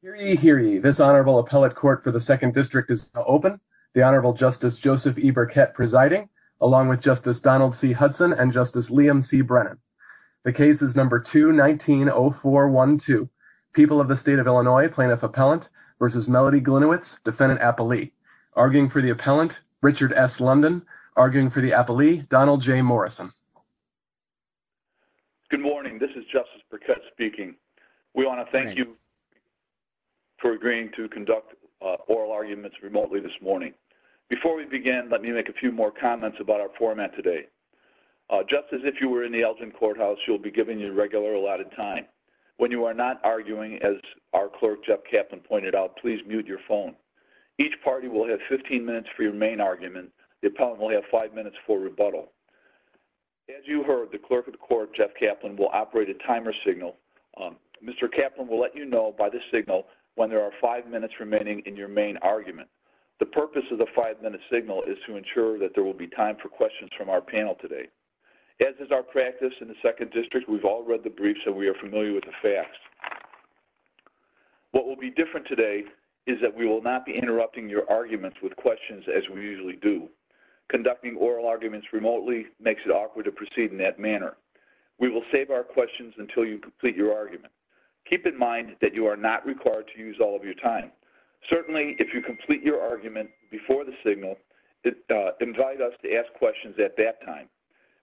Hear ye, hear ye. This Honorable Appellate Court for the Second District is now open. The Honorable Justice Joseph E. Burkett presiding, along with Justice Donald C. Hudson and Justice Liam C. Brennan. The case is number 2-19-0412. People of the State of Illinois, Plaintiff Appellant v. Melody Gliniewicz, Defendant Appellee. Arguing for the Appellant, Richard S. London. Arguing for the Appellee, Donald J. Morrison. Good morning. This is Justice Burkett speaking. We want to thank you for agreeing to conduct oral arguments remotely this morning. Before we begin, let me make a few more comments about our format today. Justice, if you were in the Elgin Courthouse, you'll be given your regular allotted time. When you are not arguing, as our Clerk, Jeff Kaplan, pointed out, please mute your phone. Each party will have 15 minutes for your main argument. The Appellant will have 5 minutes for rebuttal. As you heard, the Clerk of the Court, Jeff Kaplan, will operate a timer signal. Mr. Kaplan will let you know by this signal when there are 5 minutes remaining in your main argument. The purpose of the 5-minute signal is to ensure that there will be time for questions from our panel today. As is our practice in the Second District, we've all read the briefs and we are familiar with the facts. What will be different today is that we will not be interrupting your arguments with questions as we usually do. Conducting oral arguments remotely makes it awkward to proceed in that manner. We will save our questions until you complete your argument. Keep in mind that you are not required to use all of your time. Certainly, if you complete your argument before the signal, invite us to ask questions at that time.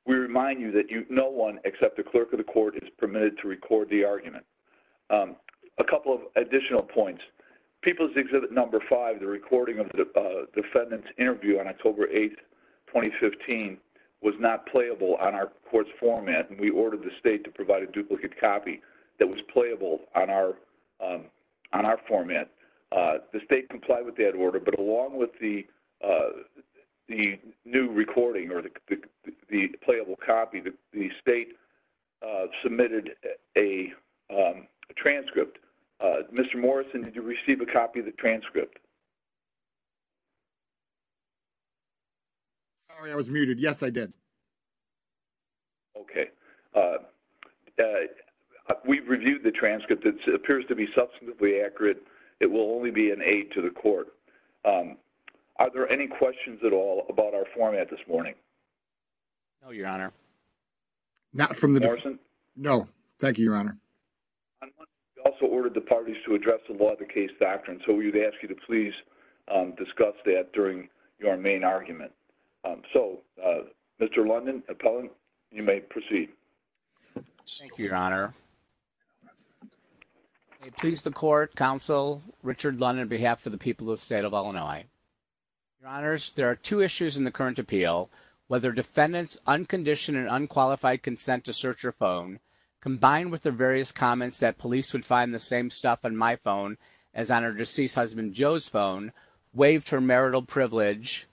We remind you that no one except the Clerk of the Court is permitted to record the argument. A couple of additional points. People's Exhibit No. 5, the recording of the defendant's interview on October 8, 2015, was not playable on our court's format. We ordered the State to provide a duplicate copy that was playable on our format. The State complied with that order, but along with the new recording or the playable copy, the State submitted a transcript. Mr. Morrison, did you receive a copy of the transcript? Sorry, I was muted. Yes, I did. Okay. We've reviewed the transcript. It appears to be substantively accurate. It will only be an aid to the Court. Are there any questions at all about our format this morning? No, Your Honor. Mr. Morrison? No. Thank you, Your Honor. We also ordered the parties to address the law of the case doctrine, so we would ask you to please discuss that during your main argument. So, Mr. Lundin, appellant, you may proceed. Thank you, Your Honor. May it please the Court, Counsel Richard Lundin, on behalf of the people of the State of Illinois. Your Honors, there are two issues in the current appeal. Whether defendants' unconditioned and unqualified consent to search her phone, combined with the various comments that police would find the same stuff on my phone as on her deceased husband Joe's phone, waived her marital privilege,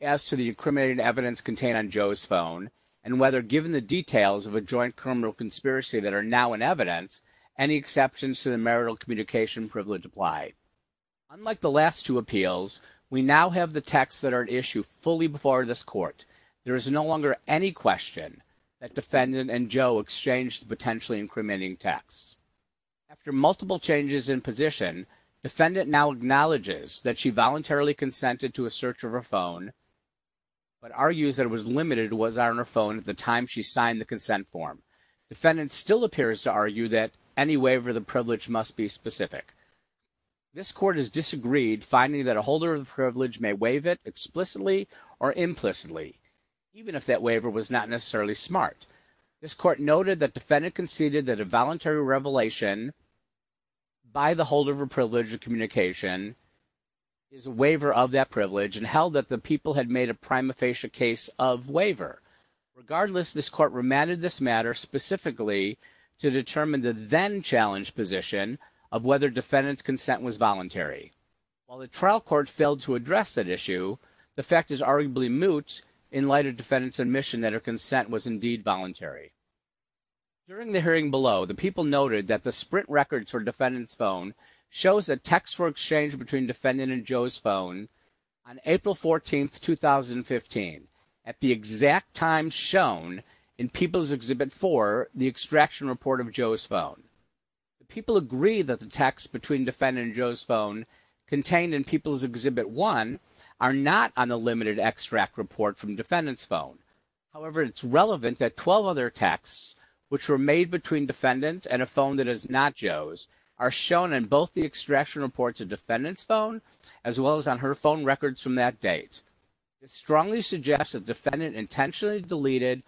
as to the incriminating evidence contained on Joe's phone, and whether, given the details of a joint criminal conspiracy that are now in evidence, any exceptions to the marital communication privilege apply. Unlike the last two appeals, we now have the texts that are at issue fully before this Court. There is no longer any question that defendant and Joe exchanged potentially incriminating texts. After multiple changes in position, defendant now acknowledges that she voluntarily consented to a search of her phone, but argues that it was limited to what was on her phone at the time she signed the consent form. Defendant still appears to argue that any waiver of the privilege must be specific. This Court has disagreed, finding that a holder of the privilege may waive it explicitly or implicitly, even if that waiver was not necessarily smart. This Court noted that defendant conceded that a voluntary revelation by the holder of a privilege of communication is a waiver of that privilege, and held that the people had made a prima facie case of waiver. Regardless, this Court remanded this matter specifically to determine the then-challenged position of whether defendant's consent was voluntary. While the trial court failed to address that issue, the fact is arguably moot in light of defendant's admission that her consent was indeed voluntary. During the hearing below, the people noted that the sprint records for defendant's phone shows that texts were exchanged between defendant and Joe's phone on April 14, 2015, at the exact time shown in People's Exhibit 4, the extraction report of Joe's phone. People agree that the texts between defendant and Joe's phone contained in People's Exhibit 1 are not on the limited extract report from defendant's phone. However, it's relevant that 12 other Joe's are shown in both the extraction reports of defendant's phone, as well as on her phone records from that date. It strongly suggests that defendant intentionally deleted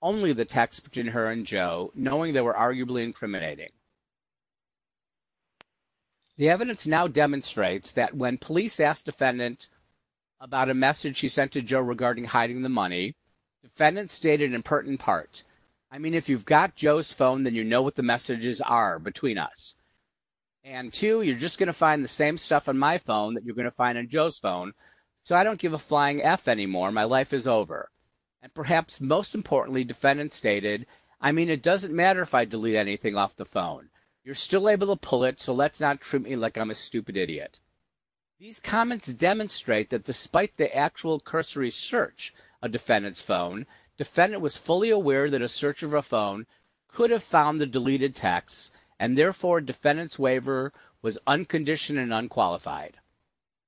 only the text between her and Joe, knowing they were arguably incriminating. The evidence now demonstrates that when police asked defendant about a message she sent to Joe regarding hiding the money, defendant stated an important part. I mean, if you've got Joe's phone, then you know what the messages are between us. And two, you're just going to find the same stuff on my phone that you're going to find on Joe's phone, so I don't give a flying F anymore. My life is over. And perhaps most importantly, defendant stated, I mean, it doesn't matter if I delete anything off the phone. You're still able to pull it, so let's not treat me like I'm a stupid idiot. These comments demonstrate that despite the actual cursory search of defendant's phone, defendant was fully aware that a search of her phone could have found the deleted text, and therefore defendant's waiver was unconditioned and unqualified.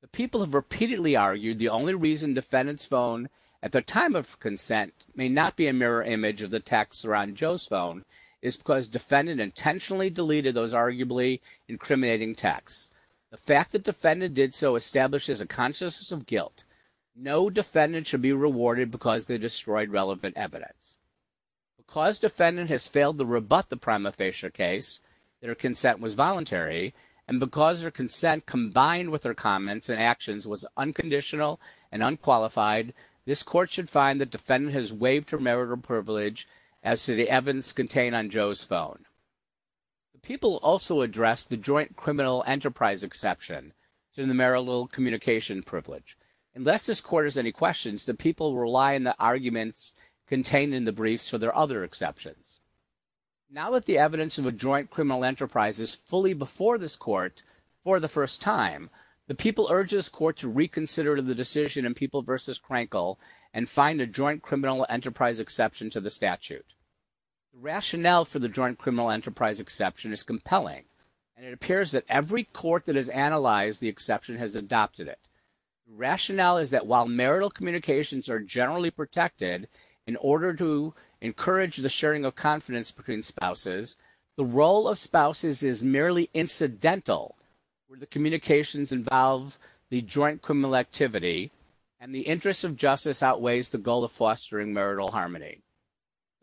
The people have repeatedly argued the only reason defendant's phone, at the time of consent, may not be a mirror image of the text around Joe's phone, is because defendant intentionally deleted those arguably incriminating texts. The fact that defendant did so establishes a consciousness of guilt. No defendant should be rewarded because they destroyed relevant evidence. Because defendant has failed to rebut the prima facie case, their consent was voluntary, and because their consent combined with their comments and actions was unconditional and unqualified, this court should find that defendant has waived her marital privilege as to the evidence contained on Joe's phone. The people also addressed the joint criminal enterprise exception to the marital communication privilege. Unless this court has any questions, the people rely on the arguments contained in the briefs for their other exceptions. Now that the evidence of a joint criminal enterprise is fully before this court for the first time, the people urge this court to reconsider the decision in People v. Krenkel and find a joint criminal enterprise exception to the statute. The rationale for the joint criminal enterprise exception is compelling, and it appears that every court that has analyzed the exception has adopted it. The rationale is that while marital communications are generally protected in order to encourage the sharing of confidence between spouses, the role of spouses is merely incidental, where the communications involve the joint criminal activity, and the interest of justice outweighs the goal of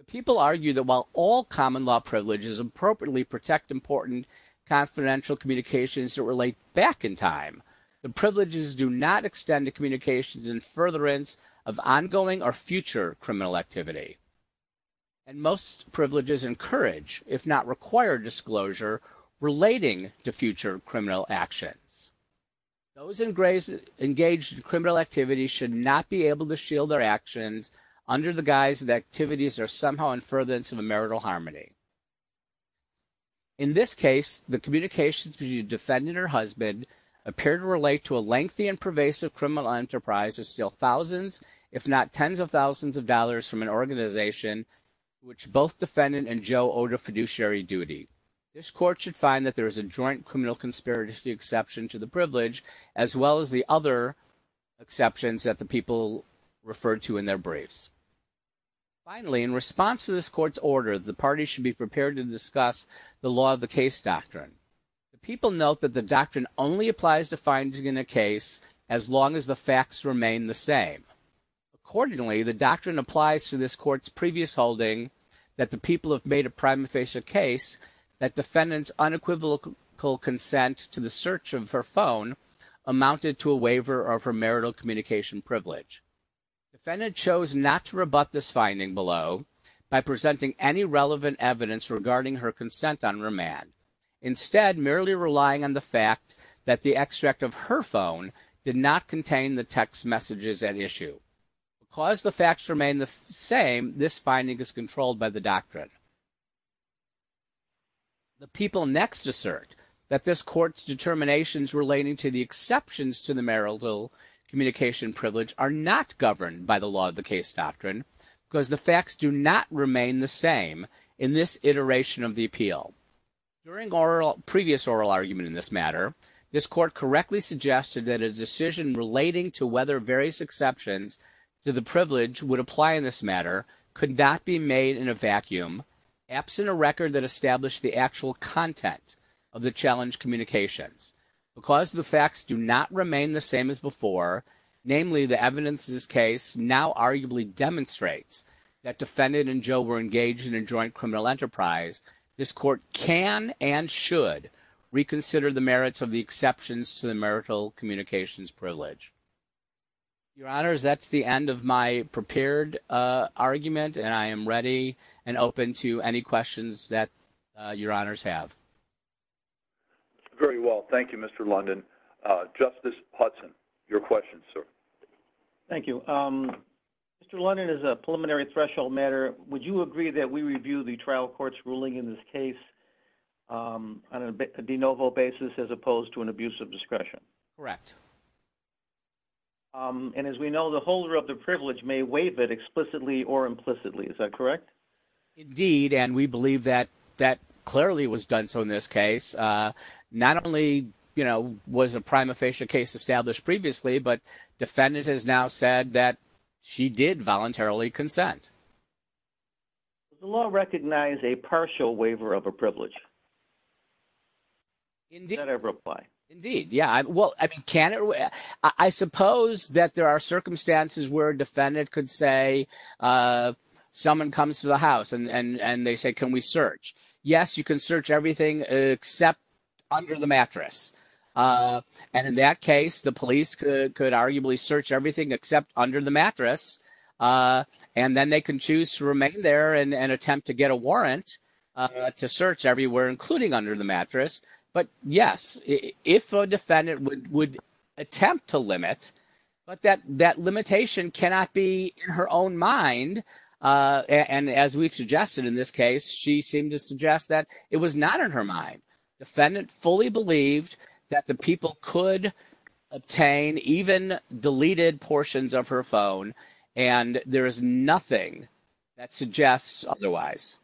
People argue that while all common law privileges appropriately protect important confidential communications that relate back in time, the privileges do not extend to communications in furtherance of ongoing or future criminal activity. And most privileges encourage, if not require, disclosure relating to future criminal actions. Those engaged in criminal activities should not be able to shield their actions under the guise that activities are somehow in furtherance of a marital harmony. In this case, the communications between the defendant or husband appear to relate to a lengthy and pervasive criminal enterprise of still thousands, if not tens of thousands of dollars from an organization, which both defendant and Joe owed a fiduciary duty. This court should find that there is a joint criminal conspiracy exception to the privilege, as well as the other exceptions that the people refer to in their briefs. Finally, in response to this court's order, the parties should be prepared to discuss the law of the case doctrine. The people note that the doctrine only applies to finding in a case as long as the facts remain the same. Accordingly, the doctrine applies to this court's previous holding that the people have made a prima a case that defendant's unequivocal consent to the search of her phone amounted to a waiver of her marital communication privilege. Defendant chose not to rebut this finding below by presenting any relevant evidence regarding her consent on remand, instead merely relying on the fact that the extract of her phone did not contain the text messages at issue. Because the facts remain the same, this finding is controlled by the doctrine. The people next assert that this court's determinations relating to the exceptions to the marital communication privilege are not governed by the law of the case doctrine because the facts do not remain the same in this iteration of the appeal. During our previous oral argument in this matter, this court correctly suggested that a decision relating to whether various exceptions to the privilege would apply in this matter could not be made in a vacuum absent a record that established the actual content of the challenge communications. Because the facts do not remain the same as before, namely the evidence in this case now arguably demonstrates that defendant and Joe were engaged in a joint criminal enterprise, this court can and should reconsider the merits of the exceptions to the marital communications privilege. Your honors, that's the end of my prepared argument and I am ready and open to any questions that your honors have. Very well, thank you, Mr. London. Justice Hudson, your question, sir. Thank you. Mr. London, as a preliminary threshold matter, would you agree that we review the trial court's ruling in this case on a de novo basis as opposed to an abuse of discretion? Correct. And as we know, the holder of the privilege may waive it explicitly or implicitly, is that correct? Indeed, and we believe that that clearly was done so in this case. Not only, you know, was a prima facie case established previously, but defendant has now said that she did voluntarily consent. Does the law recognize a partial waiver of a privilege? Indeed, yeah, well, I suppose that there are circumstances where a defendant could say someone comes to the house and they say, can we search? Yes, you can search everything except under the mattress. And in that case, the police could arguably search everything except under the mattress. They can choose to remain there and attempt to get a warrant to search everywhere, including under the mattress. But yes, if a defendant would attempt to limit, but that limitation cannot be in her own mind. And as we've suggested in this case, she seemed to suggest that it was not in her mind. Defendant fully believed that the people could obtain even deleted portions of her phone and there is nothing that suggests otherwise.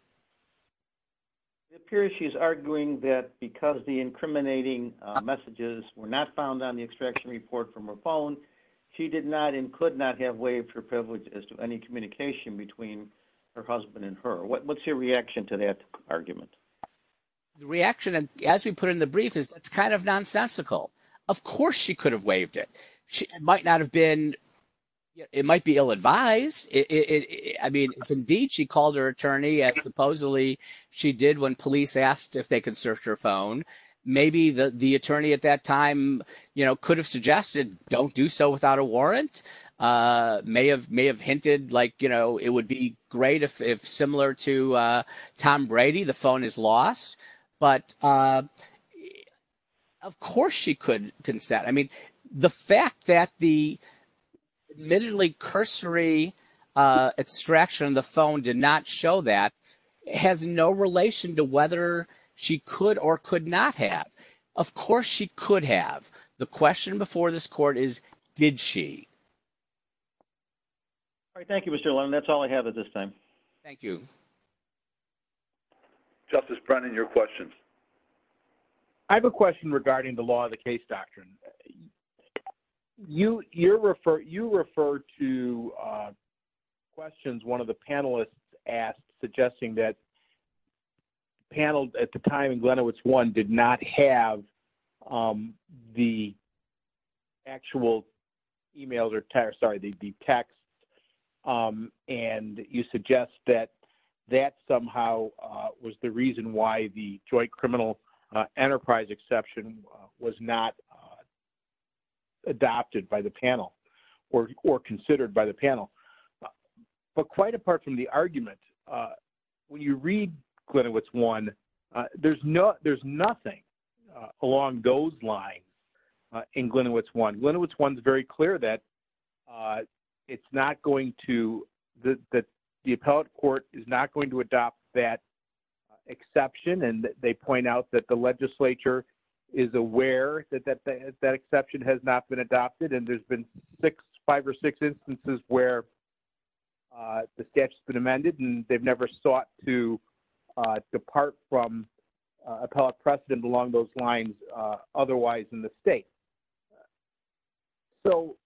It appears she's arguing that because the incriminating messages were not found on the extraction report from her phone, she did not and could not have waived her privilege as to any communication between her husband and her. What's your reaction to that argument? The reaction, as we put in the brief, is it's kind of nonsensical. Of course, she could have waived it. She might not have been. It might be ill advised. I mean, it's indeed she called her attorney as supposedly she did when police asked if they could search her phone. Maybe the attorney at that time could have suggested don't do so without a warrant. May have may have hinted like, you know, it would be great if similar to Tom Brady, the phone is lost. But it of course she could consent. I mean, the fact that the admittedly cursory extraction on the phone did not show that has no relation to whether she could or could not have. Of course, she could have. The question before this court is, did she? All right. Thank you, Mr. Long. That's all I have at this time. Thank you. Justice Brennan, your questions. I have a question regarding the law of the case doctrine. You you're refer you refer to questions one of the panelists asked, suggesting that panels at the time in Glenowitz one did not have the actual emails or sorry, the text. Um, and you suggest that that somehow was the reason why the joint criminal enterprise exception was not adopted by the panel or or considered by the panel. But quite apart from the argument, when you read Glenowitz one, there's no there's nothing along those lines in Glenowitz one. Glenowitz one is very clear that it's not going to that the appellate court is not going to adopt that exception. And they point out that the legislature is aware that that that exception has not been adopted. And there's been six, five or six instances where the statutes been amended, and they've never sought to appellate precedent along those lines, otherwise in the state. So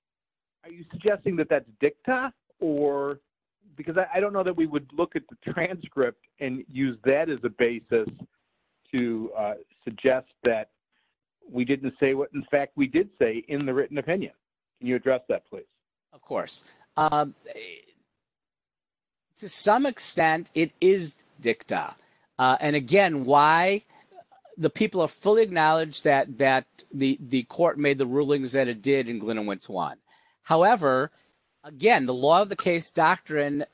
are you suggesting that that's dicta? Or? Because I don't know that we would look at the transcript and use that as a basis to suggest that we didn't say what in fact, we did say in the written opinion. Can you address that, please? Of course. To some extent, it is dicta. And again, why the people are fully acknowledged that that the the court made the rulings that it did in Glenowitz one. However, again, the law of the case doctrine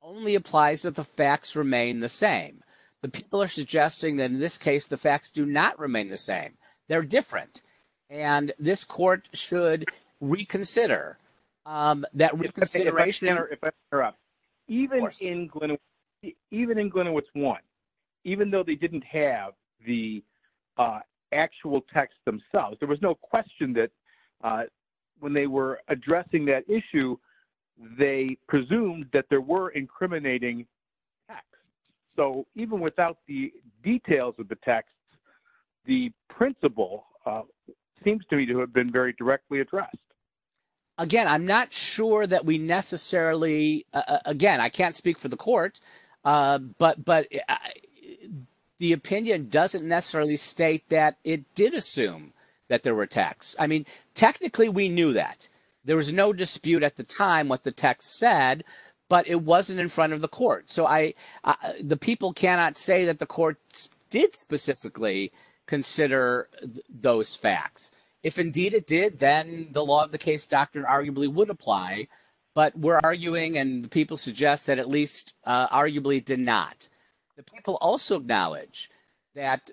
only applies that the facts remain the same. The people are suggesting that in this case, the facts do not remain the same. They're different. And this court should reconsider that. If I may interrupt, even in Glenowitz one, even though they didn't have the actual text themselves, there was no question that when they were addressing that issue, they presumed that there were incriminating text. So even without the details of the text, the principle seems to me to have been very directly addressed. Again, I'm not sure that we necessarily again, I can't speak for the court. But but the opinion doesn't necessarily state that it did assume that there were attacks. I mean, technically, we knew that there was no dispute at the time what the text said, but it wasn't in front of the court. So I, the people cannot say that the court did specifically consider those facts. If indeed it did, then the law of the case doctrine arguably would apply. But we're arguing and people suggest that at least arguably did not. The people also acknowledge that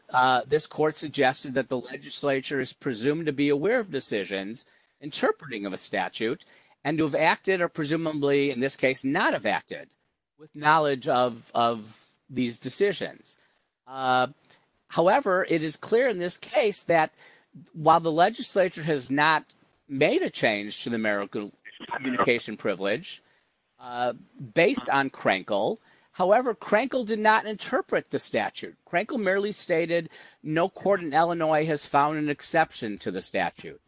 this court suggested that the legislature is presumed to be aware of decisions, interpreting of a statute, and to have acted or presumably in this case, not have acted with knowledge of these decisions. However, it is clear in this case that while the legislature has not made a change to the American communication privilege, based on Krenkel, however, Krenkel did not interpret the statute. Krenkel merely stated, no court in Illinois has found an exception to the statute,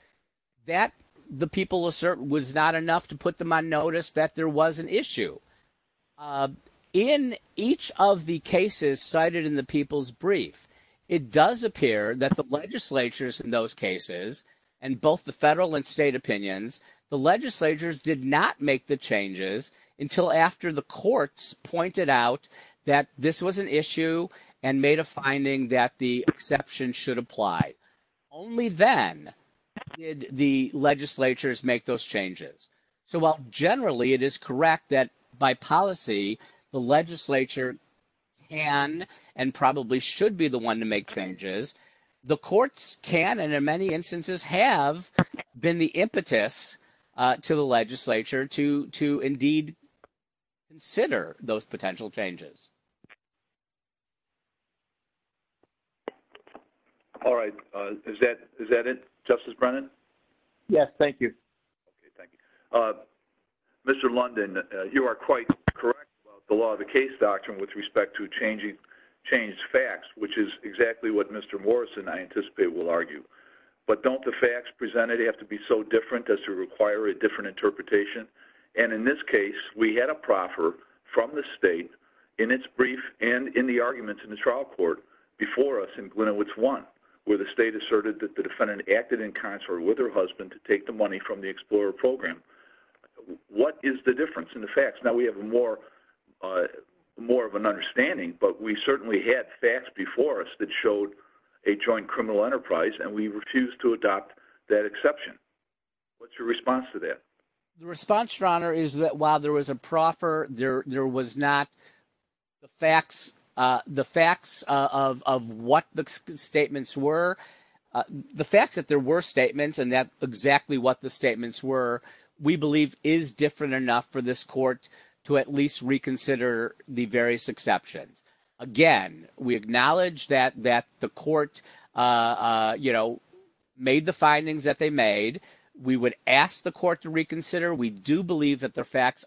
that the people assert was not enough to put them on notice that there was an issue. In each of the cases cited in the people's brief, it does appear that the legislatures in those cases, and both the federal and state opinions, the legislatures did not make the changes until after the courts pointed out that this was an issue and made a finding that the exception should apply. Only then did the legislatures make those changes. So while generally it is correct that by policy, the legislature can and probably should be the one to make changes, the courts can, in many instances, have been the impetus to the legislature to indeed consider those potential changes. All right. Is that it, Justice Brennan? Yes. Thank you. Okay. Thank you. Mr. London, you are quite correct about the law of the case doctrine with respect to changed facts, which is exactly what Mr. Morrison, I anticipate, will argue. But don't the facts presented have to be so different as to require a different interpretation? And in this case, we had a proffer from the state in its brief and in the arguments in the trial court before us in Glenowitz 1, where the state asserted that the defendant acted in concert with her husband to take the money from the explorer program. What is the difference in facts? Now, we have more of an understanding, but we certainly had facts before us that showed a joint criminal enterprise and we refused to adopt that exception. What's your response to that? The response, Your Honor, is that while there was a proffer, there was not the facts of what the statements were. The facts that there were statements and that exactly what the statements were, we believe is different enough for this court to at least reconsider the various exceptions. Again, we acknowledge that the court, you know, made the findings that they made. We would ask the court to reconsider. We do believe that the facts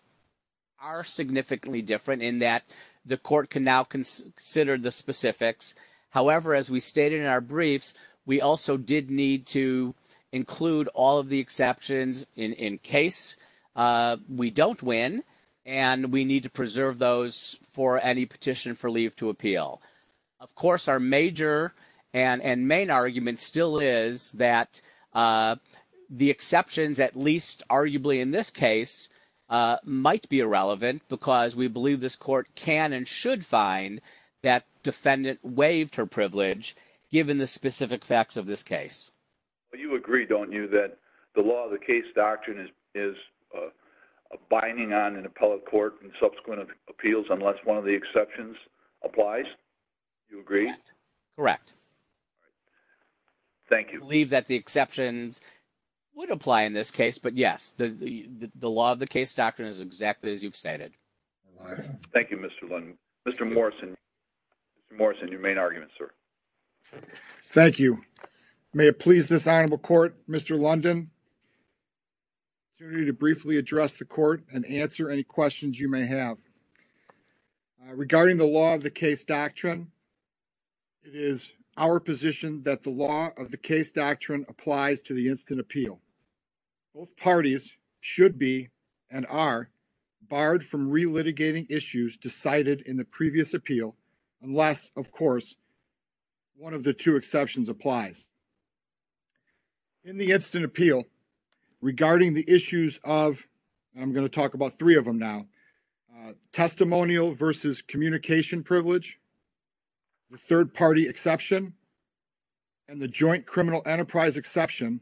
are significantly different in that the court can now consider the specifics. However, as we stated in our briefs, we also did need to in case we don't win and we need to preserve those for any petition for leave to appeal. Of course, our major and main argument still is that the exceptions, at least arguably in this case, might be irrelevant because we believe this court can and should find that defendant waived her privilege given the specific facts of this case. You agree, don't you, that the law of the case doctrine is a binding on an appellate court and subsequent appeals unless one of the exceptions applies? You agree? Correct. Thank you. I believe that the exceptions would apply in this case, but yes, the law of the case doctrine is exactly as you've stated. Thank you, Mr. London. Mr. Morrison, your main argument, sir. Thank you. May it please this honorable court, Mr. London, an opportunity to briefly address the court and answer any questions you may have regarding the law of the case doctrine. It is our position that the law of the case doctrine applies to the instant appeal. Both parties should be and are barred from relitigating issues decided in the previous appeal unless, of course, one of the two exceptions applies. In the instant appeal, regarding the issues of, I'm going to talk about three of them now, testimonial versus communication privilege, the third party exception, and the joint criminal enterprise exception,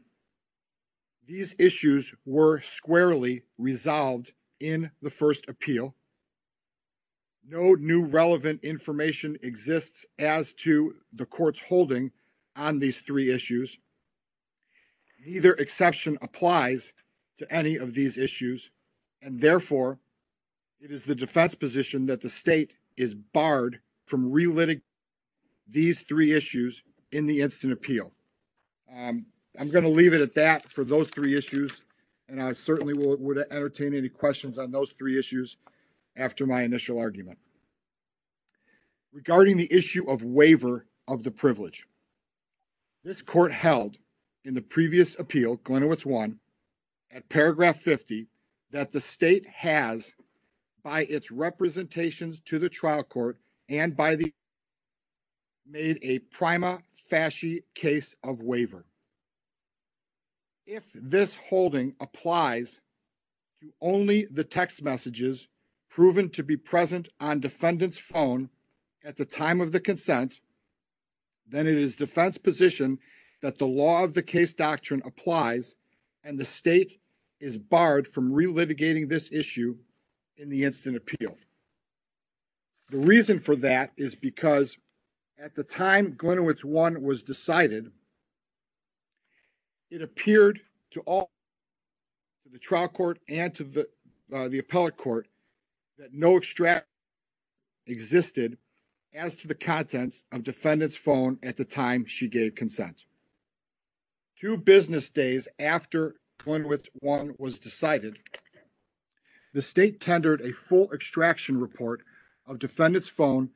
these issues were squarely resolved in the first appeal. No new relevant information exists as to the court's holding on these three issues. Neither exception applies to any of these issues, and therefore, it is the defense position that the state is barred from relitigating these three issues in the instant appeal. I'm going to leave it at that for those three issues, and I certainly would entertain any questions on those three issues after my initial argument. Regarding the issue of waiver of the privilege, this court has in the previous appeal, Glenowitz 1, at paragraph 50, that the state has by its representations to the trial court and by the made a prima facie case of waiver. If this holding applies to only the text messages proven to be present on defendant's phone at the time of the consent, then it is defense position that the law of the case doctrine applies and the state is barred from relitigating this issue in the instant appeal. The reason for that is because at the time Glenowitz 1 was decided, it appeared to all the trial court and to the appellate court that no extract existed as to the contents of defendant's phone at the time she gave consent. Two business days after Glenowitz 1 was decided, the state tendered a full extraction report of defendant's phone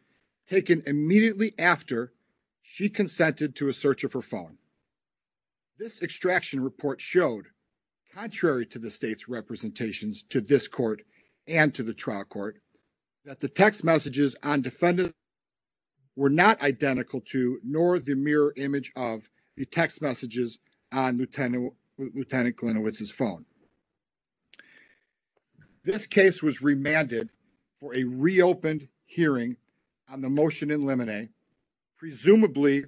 taken immediately after she consented to a search of her phone. This extraction report showed, contrary to the state's representations to this court and to the trial court, that the text messages on defendant were not identical to nor the mirror image of the text messages on Lieutenant Glenowitz's phone. This case was remanded for a reopened hearing on the motion in limine, presumably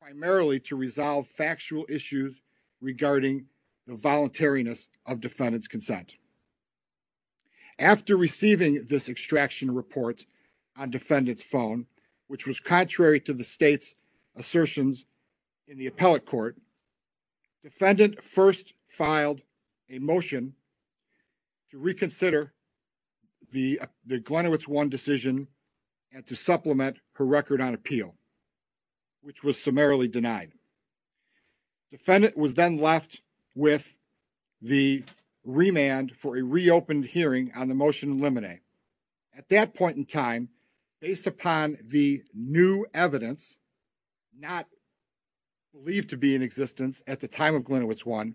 primarily to resolve factual issues regarding the voluntariness of defendant's consent. After receiving this extraction report on defendant's phone, which was contrary to the state's assertions in the appellate court, defendant first filed a motion to reconsider the Glenowitz 1 decision and to supplement her record on appeal, which was summarily denied. Defendant was then left with the remand for a reopened hearing on the motion in limine. At that point in time, based upon the new evidence not believed to be in existence at the time of Glenowitz 1,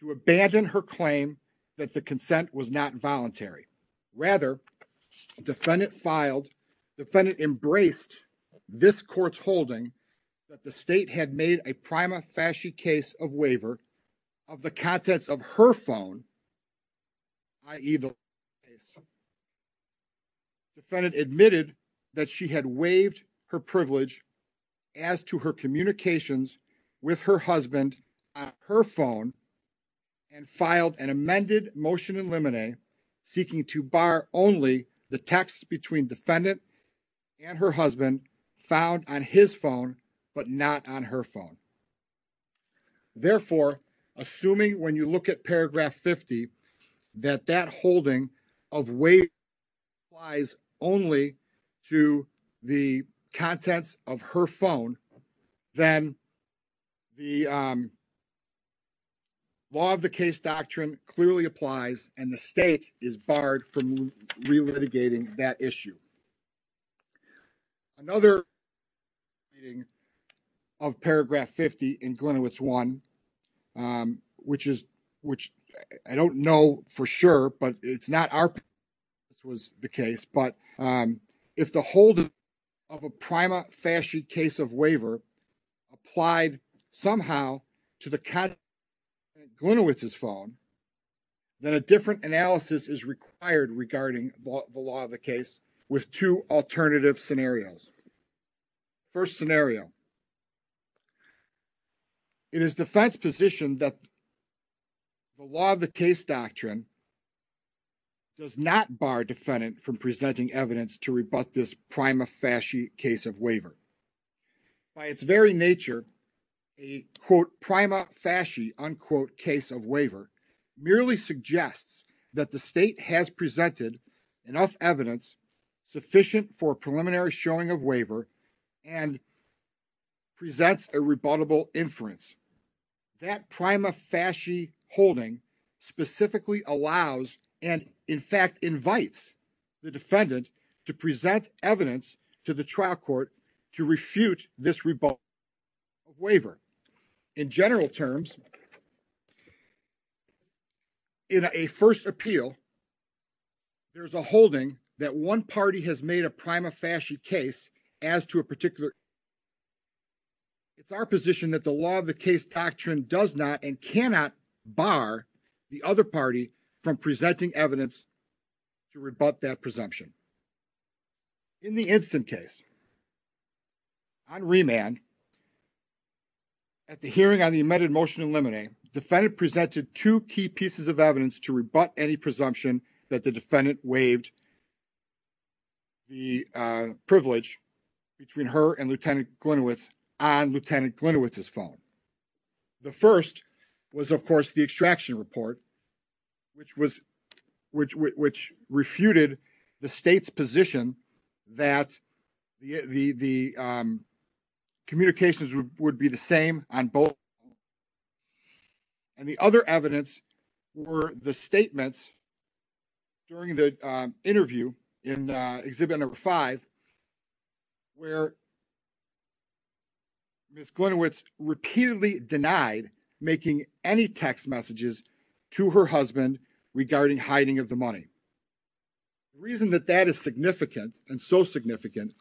to abandon her claim that the this court's holding that the state had made a prima facie case of waiver of the contents of her phone, i.e. the case, defendant admitted that she had waived her privilege as to her communications with her husband on her phone and filed an amended motion in limine seeking to bar only the texts between defendant and her husband found on his phone, but not on her phone. Therefore, assuming when you look at paragraph 50 that that holding of waiver applies only to the contents of her phone, then the law of the case doctrine clearly applies and the state is barred from re-litigating that issue. Another reading of paragraph 50 in Glenowitz 1, which is, which I don't know for sure, but it's not our case, but if the holding of a prima facie case of waiver applied somehow to the content of Glenowitz's phone, then a different analysis is required regarding the law of the case with two alternative scenarios. First scenario, it is defense position that the law of the case doctrine does not bar defendant from presenting evidence to rebut this prima facie case of waiver. By its very nature, a quote prima facie unquote case of waiver merely suggests that the state has presented enough evidence sufficient for preliminary showing of waiver and presents a rebuttable inference. That prima facie holding specifically allows and in fact invites the to refute this rebut of waiver. In general terms, in a first appeal, there's a holding that one party has made a prima facie case as to a particular it's our position that the law of the case doctrine does not and cannot bar the other from presenting evidence to rebut that presumption. In the instant case on remand, at the hearing on the amended motion in limine, defendant presented two key pieces of evidence to rebut any presumption that the defendant waived the privilege between her and Lieutenant which refuted the state's position that the communications would be the same on both. And the other evidence were the statements during the interview in exhibit number five where Ms. Glinowitz repeatedly denied making any text messages to her husband regarding hiding of the money. The reason that that is significant and so significant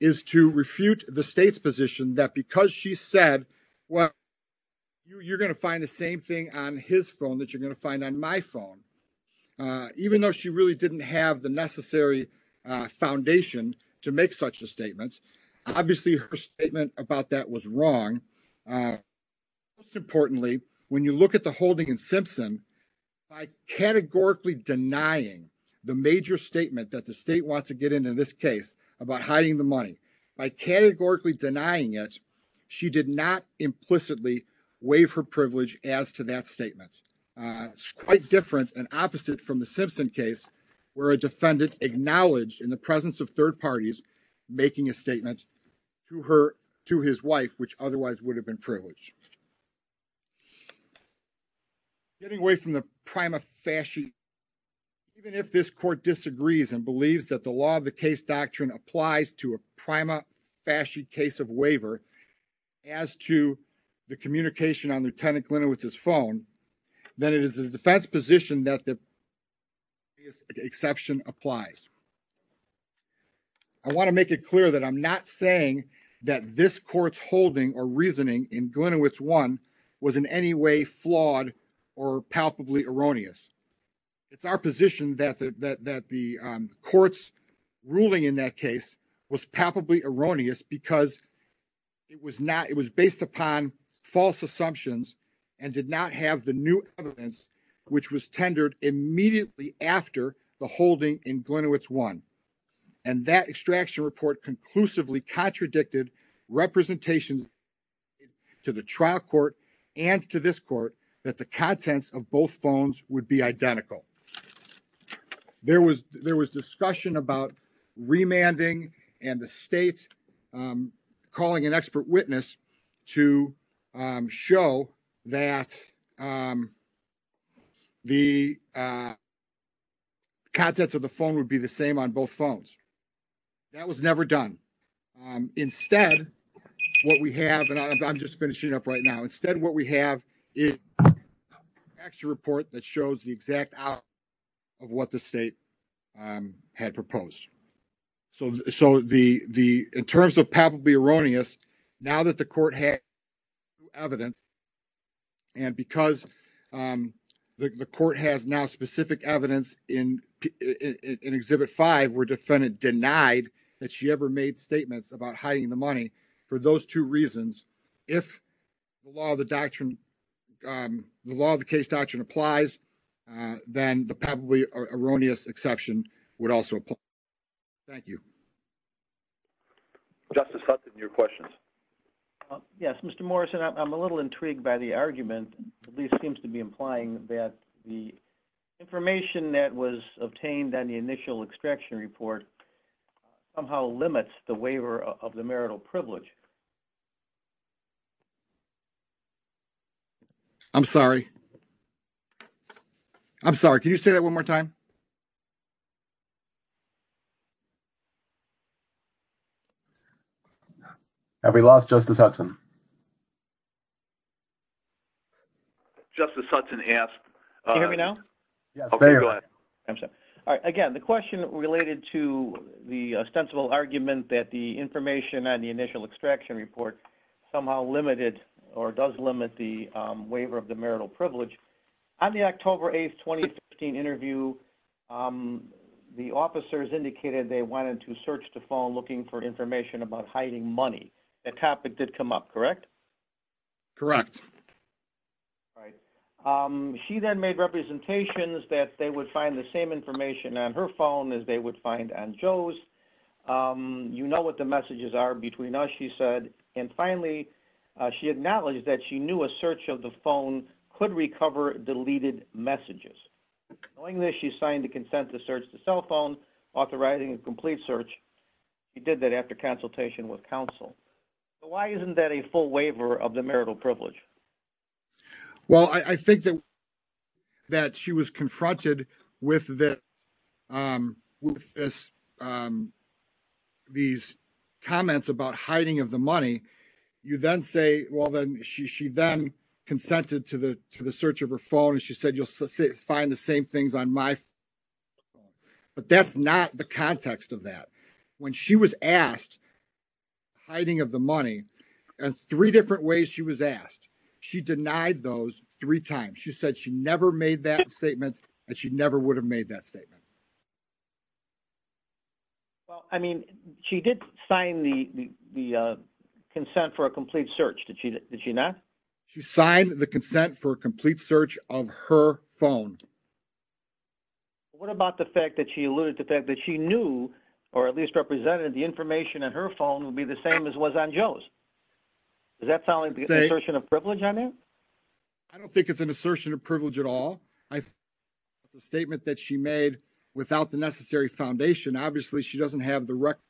is to refute the state's position that because she said well you're going to find the same thing on his phone that you're going to to make such a statement. Obviously her statement about that was wrong. Most importantly, when you look at the holding in Simpson, by categorically denying the major statement that the state wants to get into this case about hiding the money, by categorically denying it, she did not implicitly waive her privilege as to that statement. It's quite different and opposite from the Simpson case where a defendant acknowledged in the presence of third parties making a statement to her to his wife which otherwise would have been privileged. Getting away from the prima facie, even if this court disagrees and believes that the law of the case doctrine applies to a prima facie case of waiver as to the communication on Lieutenant Glinowitz's phone, then it is the defense position that the exception applies. I want to make it clear that I'm not saying that this court's holding or reasoning in Glinowitz 1 was in any way flawed or palpably erroneous. It's our position that the court's ruling in that case was palpably erroneous because it was based upon false assumptions and did not have the new conclusively contradicted representations to the trial court and to this court that the contents of both phones would be identical. There was discussion about remanding and the state calling an expert witness to show that the contents of the phone would be the same on both phones. That was never done. Instead, what we have, and I'm just finishing up right now, instead what we have is an actual report that shows the exact outcome of what the state had proposed. So in terms of palpably erroneous, now that the court has new evidence and because the court has now evidence in Exhibit 5 where the defendant denied that she ever made statements about hiding the money, for those two reasons, if the law of the case doctrine applies, then the palpably erroneous exception would also apply. Thank you. Justice Hudson, your questions. Yes, Mr. Morrison, I'm a little intrigued by the argument. The police seems to be implying that the information that was obtained on the initial extraction report somehow limits the waiver of the marital privilege. I'm sorry. I'm sorry. Can you say that one more time? Have we lost Justice Hudson? Justice Hudson asked. Can you hear me now? Yes. Again, the question related to the ostensible argument that the information on the initial extraction report somehow limited or does limit the waiver of the marital privilege. On the October 8, 2015 interview, the officers indicated they wanted to search the phone looking for information about hiding money. That topic did come up, correct? Correct. She then made representations that they would find the same information on her phone as they would find on Joe's. You know what the messages are between us, she said. And finally, she acknowledged that she knew a search of the phone could recover deleted messages. Knowing this, she signed a consent to search the cell phone, authorizing a complete search. She did that after consultation with counsel. Why isn't that a full waiver of the marital privilege? Well, I think that she was confronted with these comments about hiding of the money. You then say, well, then she then consented to the search of her phone and she said, find the same things on my phone. But that's not the context of that. When she was asked hiding of the money and three different ways she was asked, she denied those three times. She said she never made that statement and she never would have made that statement. Well, I mean, she did sign the consent for a complete search. Did she not? She signed the consent for a complete search of her phone. What about the fact that she alluded to the fact that she knew, or at least represented the information on her phone would be the same as was on Joe's? Does that sound like the assertion of privilege on there? I don't think it's an assertion of privilege at all. I think it's a statement that she made without the necessary foundation. Obviously, she doesn't have the direct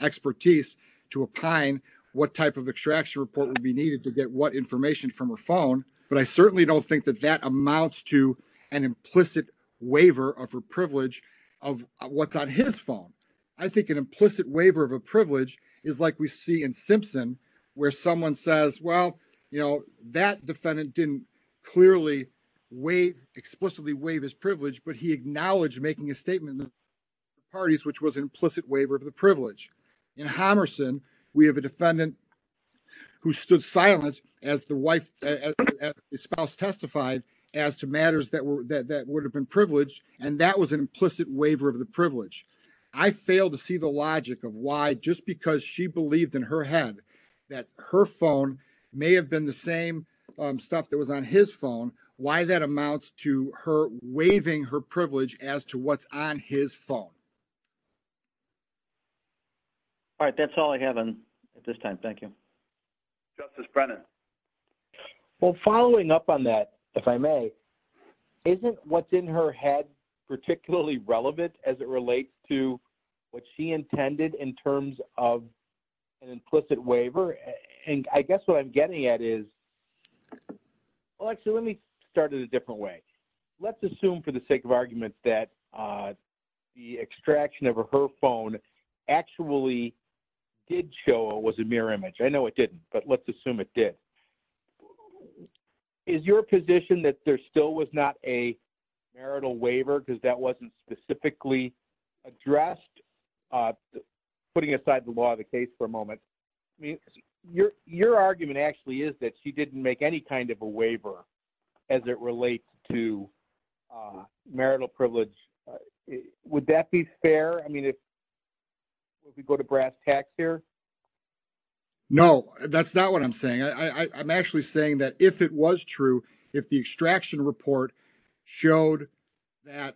expertise to opine what type of extraction report would be needed to get what information from her phone. But I certainly don't think that that amounts to an implicit waiver of her privilege of what's on his phone. I think an implicit waiver of a privilege is like we see in Simpson, where someone says, well, that defendant didn't clearly explicitly waive his privilege, but he acknowledged making a statement in the parties, which was an implicit waiver of the privilege. In Homerson, we have a defendant who stood silent as the spouse testified as to matters that would have been privileged, and that was an implicit waiver of the privilege. I fail to see the logic of why just because she believed in her head that her phone may have been the same stuff that was on his phone, why that amounts to her waiving her privilege as to what's on his phone. All right, that's all I have at this time. Thank you. Justice Brennan. Well, following up on that, if I may, isn't what's in her head particularly relevant as it relates to what she intended in terms of an implicit waiver? And I guess what I'm getting at is, well, actually, let me start in a different way. Let's assume for the sake of argument that the extraction of her phone actually did show it was a mirror image. I know it didn't, but let's assume it did. Is your position that there still was not a waiver because that wasn't specifically addressed? Putting aside the law of the case for a moment, your argument actually is that she didn't make any kind of a waiver as it relates to marital privilege. Would that be fair? I mean, if we go to brass tacks here? No, that's not what I'm saying. I'm actually saying that if it was true, if the extraction report showed that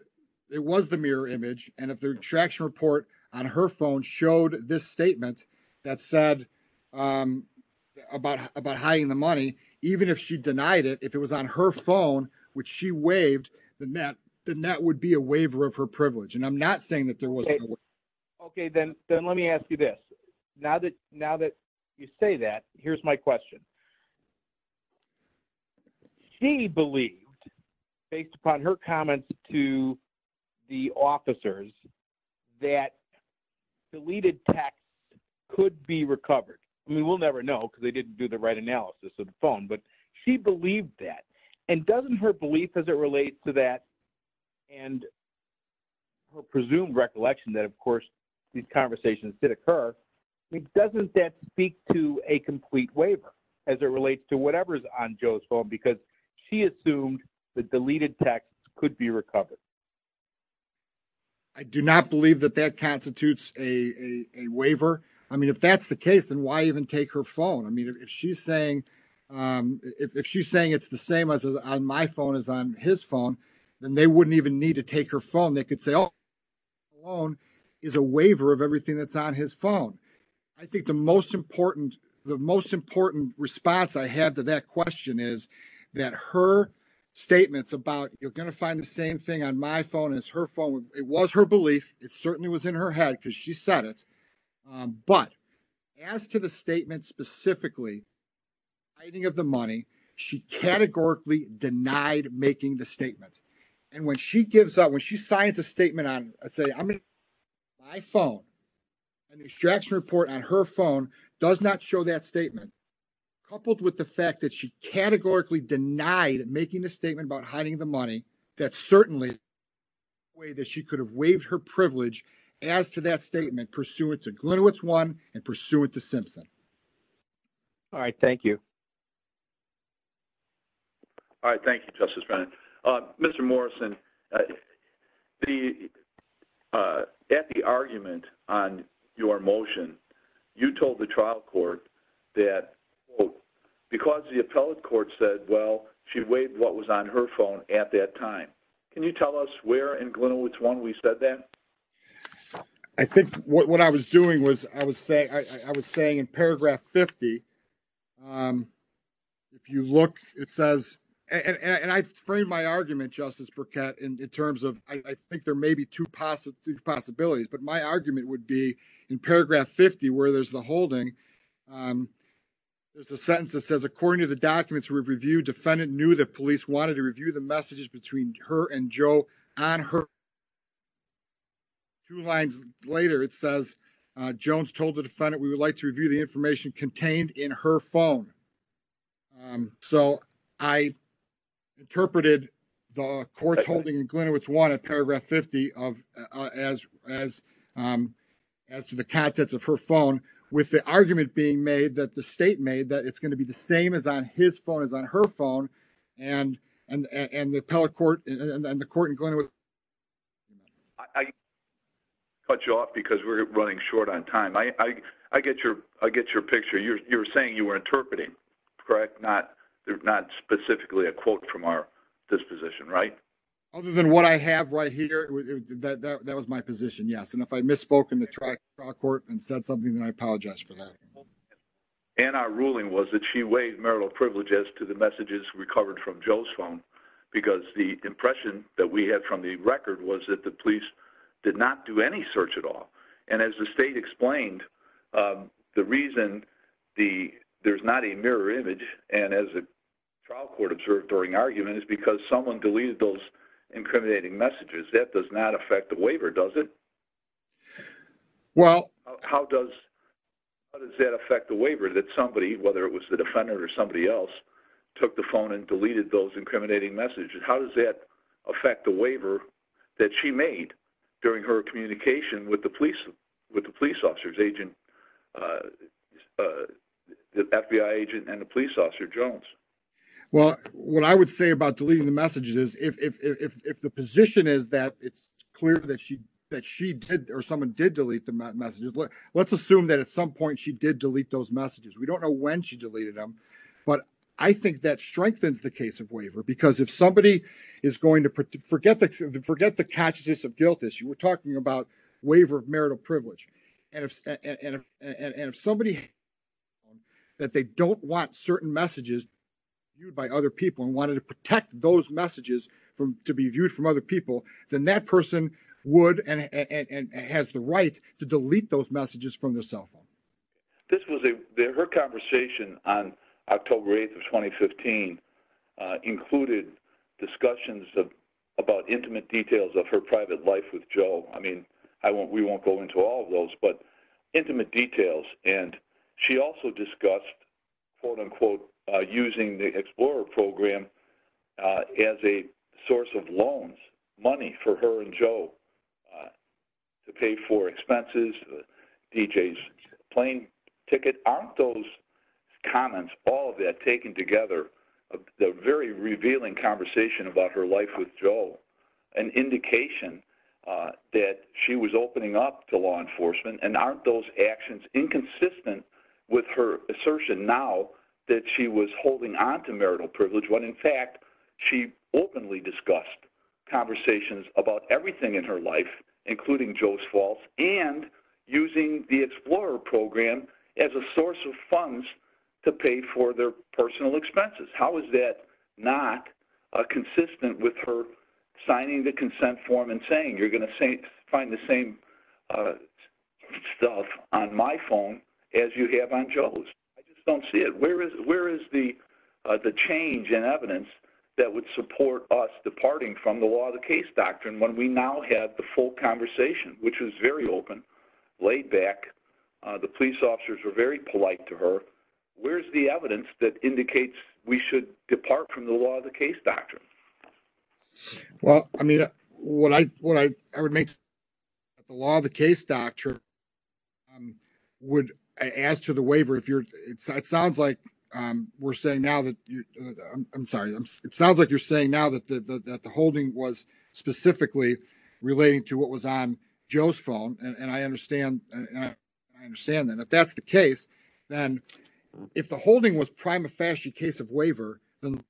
it was the mirror image, and if the extraction report on her phone showed this statement that said about hiding the money, even if she denied it, if it was on her phone, which she waived, then that would be a waiver of her privilege. And I'm not saying that there wasn't a waiver. Okay, then let me ask you this. Now that you say that, here's my question. She believed, based upon her comments to the officers, that deleted text could be recovered. I mean, we'll never know because they didn't do the right analysis of the phone, but she believed that. And doesn't her belief as it relates to that and her presumed recollection that, of course, these conversations did occur, it doesn't that speak to a complete waiver as it relates to whatever is on Joe's phone? Because she assumed that deleted text could be recovered. I do not believe that that constitutes a waiver. I mean, if that's the case, then why even take her phone? I mean, if she's saying it's the same as on my phone as on his phone, then they wouldn't even need to take her phone. They could say, alone is a waiver of everything that's on his phone. I think the most important response I have to that question is that her statements about, you're going to find the same thing on my phone as her phone, it was her belief. It certainly was in her head because she said it. But as to the statement specifically, hiding of the money, she categorically denied making the statement on, let's say, my phone and the extraction report on her phone does not show that statement. Coupled with the fact that she categorically denied making the statement about hiding the money, that's certainly a way that she could have waived her privilege as to that statement pursuant to Glinowitz 1 and pursuant to Simpson. All right. Thank you. All right. Thank you, Justice Brennan. Mr. Morrison, at the argument on your motion, you told the trial court that, quote, because the appellate court said, well, she waived what was on her phone at that time. Can you tell us where in Glinowitz 1 we said that? I think what I was doing was I was saying, I was saying in paragraph 50, if you look, it says, and I framed my argument, Justice Burkett, in terms of, I think there may be two possibilities, but my argument would be in paragraph 50, where there's the holding, there's a sentence that says, according to the documents we've reviewed, defendant knew that police wanted to review the messages between her and Joe on her phone. Two lines later, it says, Jones told the defendant we would like to review the information contained in her phone. So I interpreted the courts holding in Glinowitz 1 at paragraph 50 as to the contents of her phone, with the argument being made that the state made that it's going to be the same as on his phone as on her phone, and the appellate court, and the court in Glinowitz. I cut you off because we're running short on time. I get your picture. You're saying you were interpreting, correct? Not specifically a quote from our disposition, right? Other than what I have right here, that was my position, yes. And if I misspoke in the trial court and said something, then I apologize for that. And our ruling was that she waived marital privilege as to the messages recovered from Joe's phone, because the impression that we had from the record was that the police did not do any search at all. And as the state explained, the reason there's not a mirror image, and as a trial court observed during argument, is because someone deleted those incriminating messages. That does not affect the waiver, does it? Well, how does that affect the waiver that somebody, whether it was the defendant or somebody else, took the phone and deleted those incriminating messages? How does that affect the waiver that she made during her communication with the police officer's agent, the FBI agent and the police officer, Jones? Well, what I would say about deleting the messages, let's assume that at some point she did delete those messages. We don't know when she deleted them, but I think that strengthens the case of waiver. Because if somebody is going to, forget the consciousness of guilt issue, we're talking about waiver of marital privilege. And if somebody, that they don't want certain messages viewed by other people and wanted to to delete those messages from their cell phone. This was a, her conversation on October 8th of 2015 included discussions about intimate details of her private life with Joe. I mean, I won't, we won't go into all of those, but intimate details. And she also discussed quote unquote, using the Explorer program as a source of loans, money for her and Joe to pay for expenses, DJ's plane ticket. Aren't those comments, all of that taken together, the very revealing conversation about her life with Joe, an indication that she was opening up to law enforcement and aren't those actions inconsistent with her assertion now that she was holding onto marital privilege when in fact, she openly discussed conversations about everything in her life, including Joe's falls and using the Explorer program as a source of funds to pay for their personal expenses. How is that not a consistent with her signing the consent form and saying, you're going to say, find the same stuff on my phone as you have on Joe's. I just don't see it. Where is, where is the, the change in evidence that would support us departing from the law, the case doctrine, when we now have the full conversation, which was very open, laid back, the police officers were very polite to her. Where's the evidence that indicates we should depart from the law, the case doctrine? Well, I mean, what I, what I would make the law, the case doctrine would ask to the waiver. If you're, it sounds like we're saying now that you, I'm sorry, it sounds like you're saying now that the, that the holding was specifically relating to what was on Joe's phone. And I understand, I understand that if that's the case, then if the holding was prima facie case of waiver, then the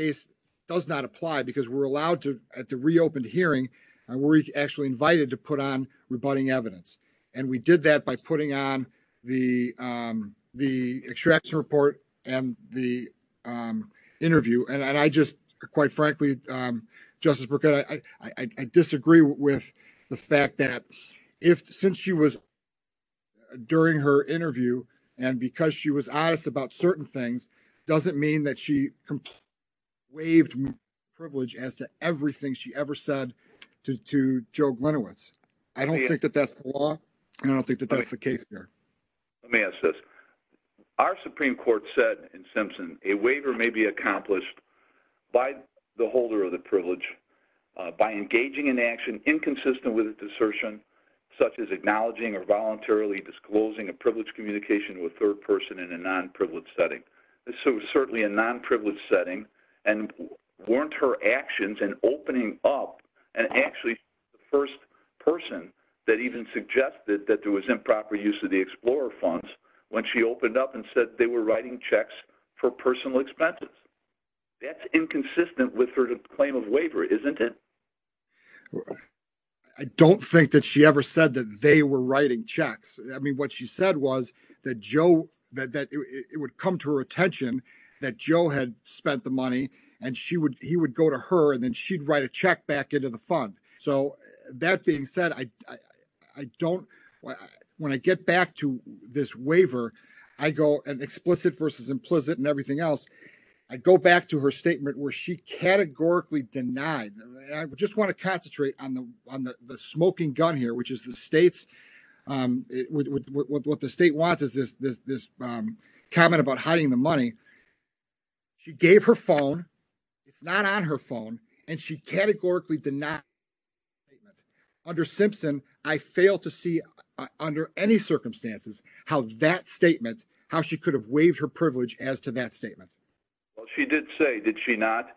case does not apply because we're allowed to, at the reopened hearing, we're actually invited to put on rebutting evidence. And we did that by putting on the, um, the extraction report and the, um, interview. And I just quite frankly, um, Justice Burkett, I, I, I disagree with the fact that if, since she was during her interview, and because she was honest about certain things, doesn't mean that she waived privilege as to everything she ever said to Joe Glenowitz. I don't think that that's the law. I don't think that that's the case here. Let me ask this. Our Supreme Court said in Simpson, a waiver may be accomplished by the holder of the privilege, uh, by engaging in action inconsistent with a desertion, such as acknowledging or voluntarily disclosing a privilege communication with third person in a non-privileged setting. So certainly a non-privileged setting and weren't her actions and opening up and actually first person that even suggested that there was improper use of the Explorer funds when she opened up and said they were writing checks for personal expenses. That's inconsistent with her claim isn't it? I don't think that she ever said that they were writing checks. I mean, what she said was that Joe, that, that it would come to her attention that Joe had spent the money and she would, he would go to her and then she'd write a check back into the fund. So that being said, I, I don't, when I get back to this waiver, I go and explicit versus implicit and everything else. I'd go back to her statement where she categorically denied. I just want to concentrate on the, on the, the smoking gun here, which is the States. Um, what the state wants is this, this, this, um, comment about hiding the money. She gave her phone. It's not on her phone and she categorically did not under Simpson. I fail to see under any circumstances, how that statement, how she could have waived her privilege as to that statement. Well, she did say, did she not?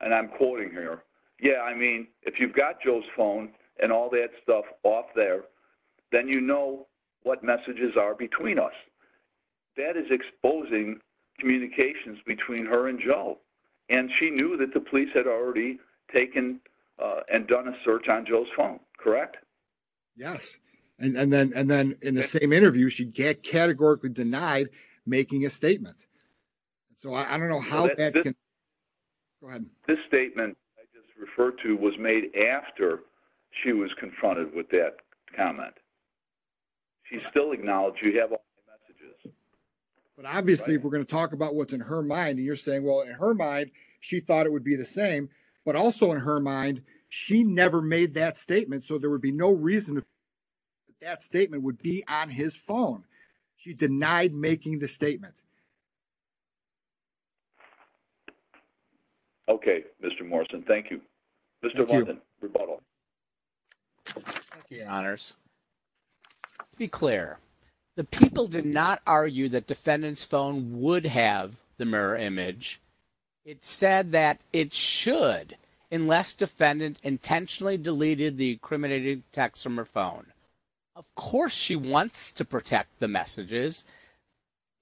And I'm quoting here. Yeah. I mean, if you've got Joe's phone and all that stuff off there, then you know what messages are between us. That is exposing communications between her and Joe. And she knew that the police had already taken, uh, and done a search on Joe's phone. Correct. Yes. And then, and then in the same interview, she get categorically denied making a statement. So I don't know how that can go ahead. This statement I just referred to was made after she was confronted with that comment. She's still acknowledged. You have all the messages, but obviously if we're going to talk about what's in her mind and you're saying, well, in her mind, she thought it would be the same, but also in her mind, she never made that statement. So there would be no reason that statement would be on his phone. She denied making the statement. Okay. Mr. Morrison. Thank you. Mr. Rebuttal. Your honors. Let's be clear. The people did not argue that defendant's phone would have the mirror image. It said that it should, unless defendant intentionally deleted the Of course she wants to protect the messages.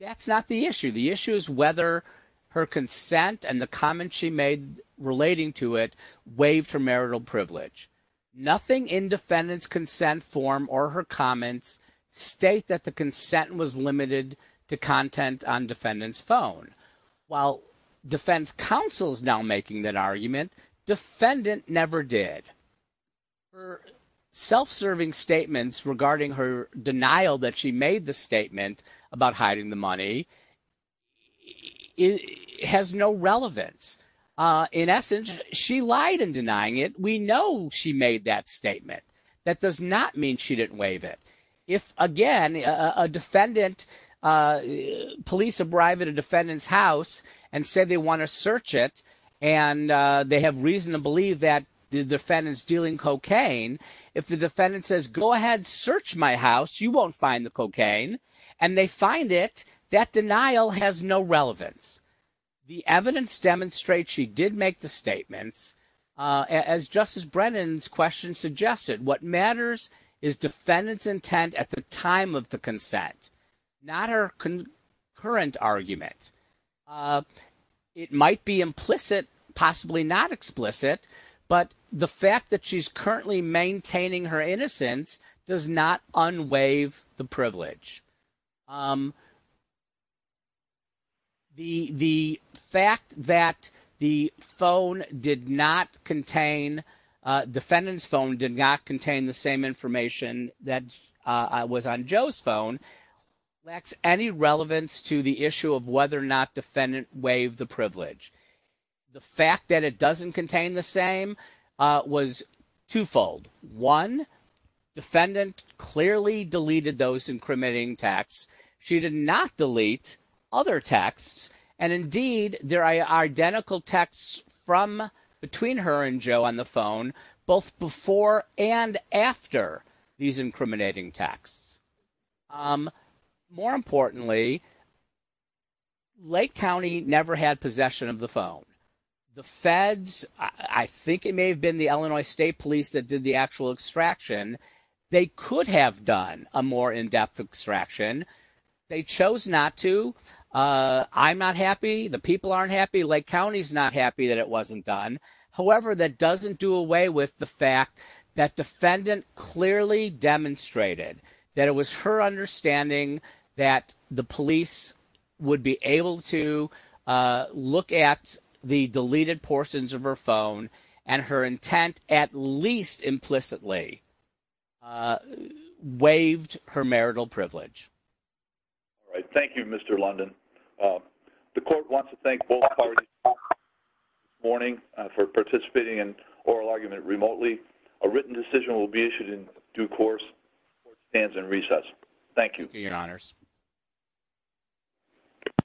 That's not the issue. The issue is whether her consent and the comments she made relating to it waived her marital privilege. Nothing in defendant's consent form or her comments state that the consent was limited to content on defendant's phone while defense counsel's now making that argument defendant never did Her self-serving statements regarding her denial that she made the statement about hiding the money has no relevance. In essence, she lied in denying it. We know she made that statement. That does not mean she didn't waive it. If again, a defendant, police arrive at a defendant's house and say they want to search it and they have reason to believe that the defendant's dealing cocaine. If the defendant says, go ahead, search my house. You won't find the cocaine and they find it. That denial has no relevance. The evidence demonstrates she did make the statements as Justice Brennan's question suggested. What matters is defendant's intent at the time of consent, not her current argument. It might be implicit, possibly not explicit, but the fact that she's currently maintaining her innocence does not unwaive the privilege. The fact that the phone did not contain, defendant's phone did not contain the same information that was on Joe's phone lacks any relevance to the issue of whether or not defendant waived the privilege. The fact that it doesn't contain the same was twofold. One, defendant clearly deleted those texts. She did not delete other texts. And indeed, there are identical texts from between her and Joe on the phone, both before and after these incriminating texts. More importantly, Lake County never had possession of the phone. The feds, I think it may have been the Illinois State Police that did the actual extraction. They could have done a more in-depth extraction. They chose not to. I'm not happy. The people aren't happy. Lake County's not happy that it wasn't done. However, that doesn't do away with the fact that defendant clearly demonstrated that it was her understanding that the police would be able to look at the deleted portions of her phone and her intent at least implicitly waived her marital privilege. All right. Thank you, Mr. London. The court wants to thank both parties this morning for participating in oral argument remotely. A written decision will be issued in due course before it stands in recess. Thank you. Thank you, your honors.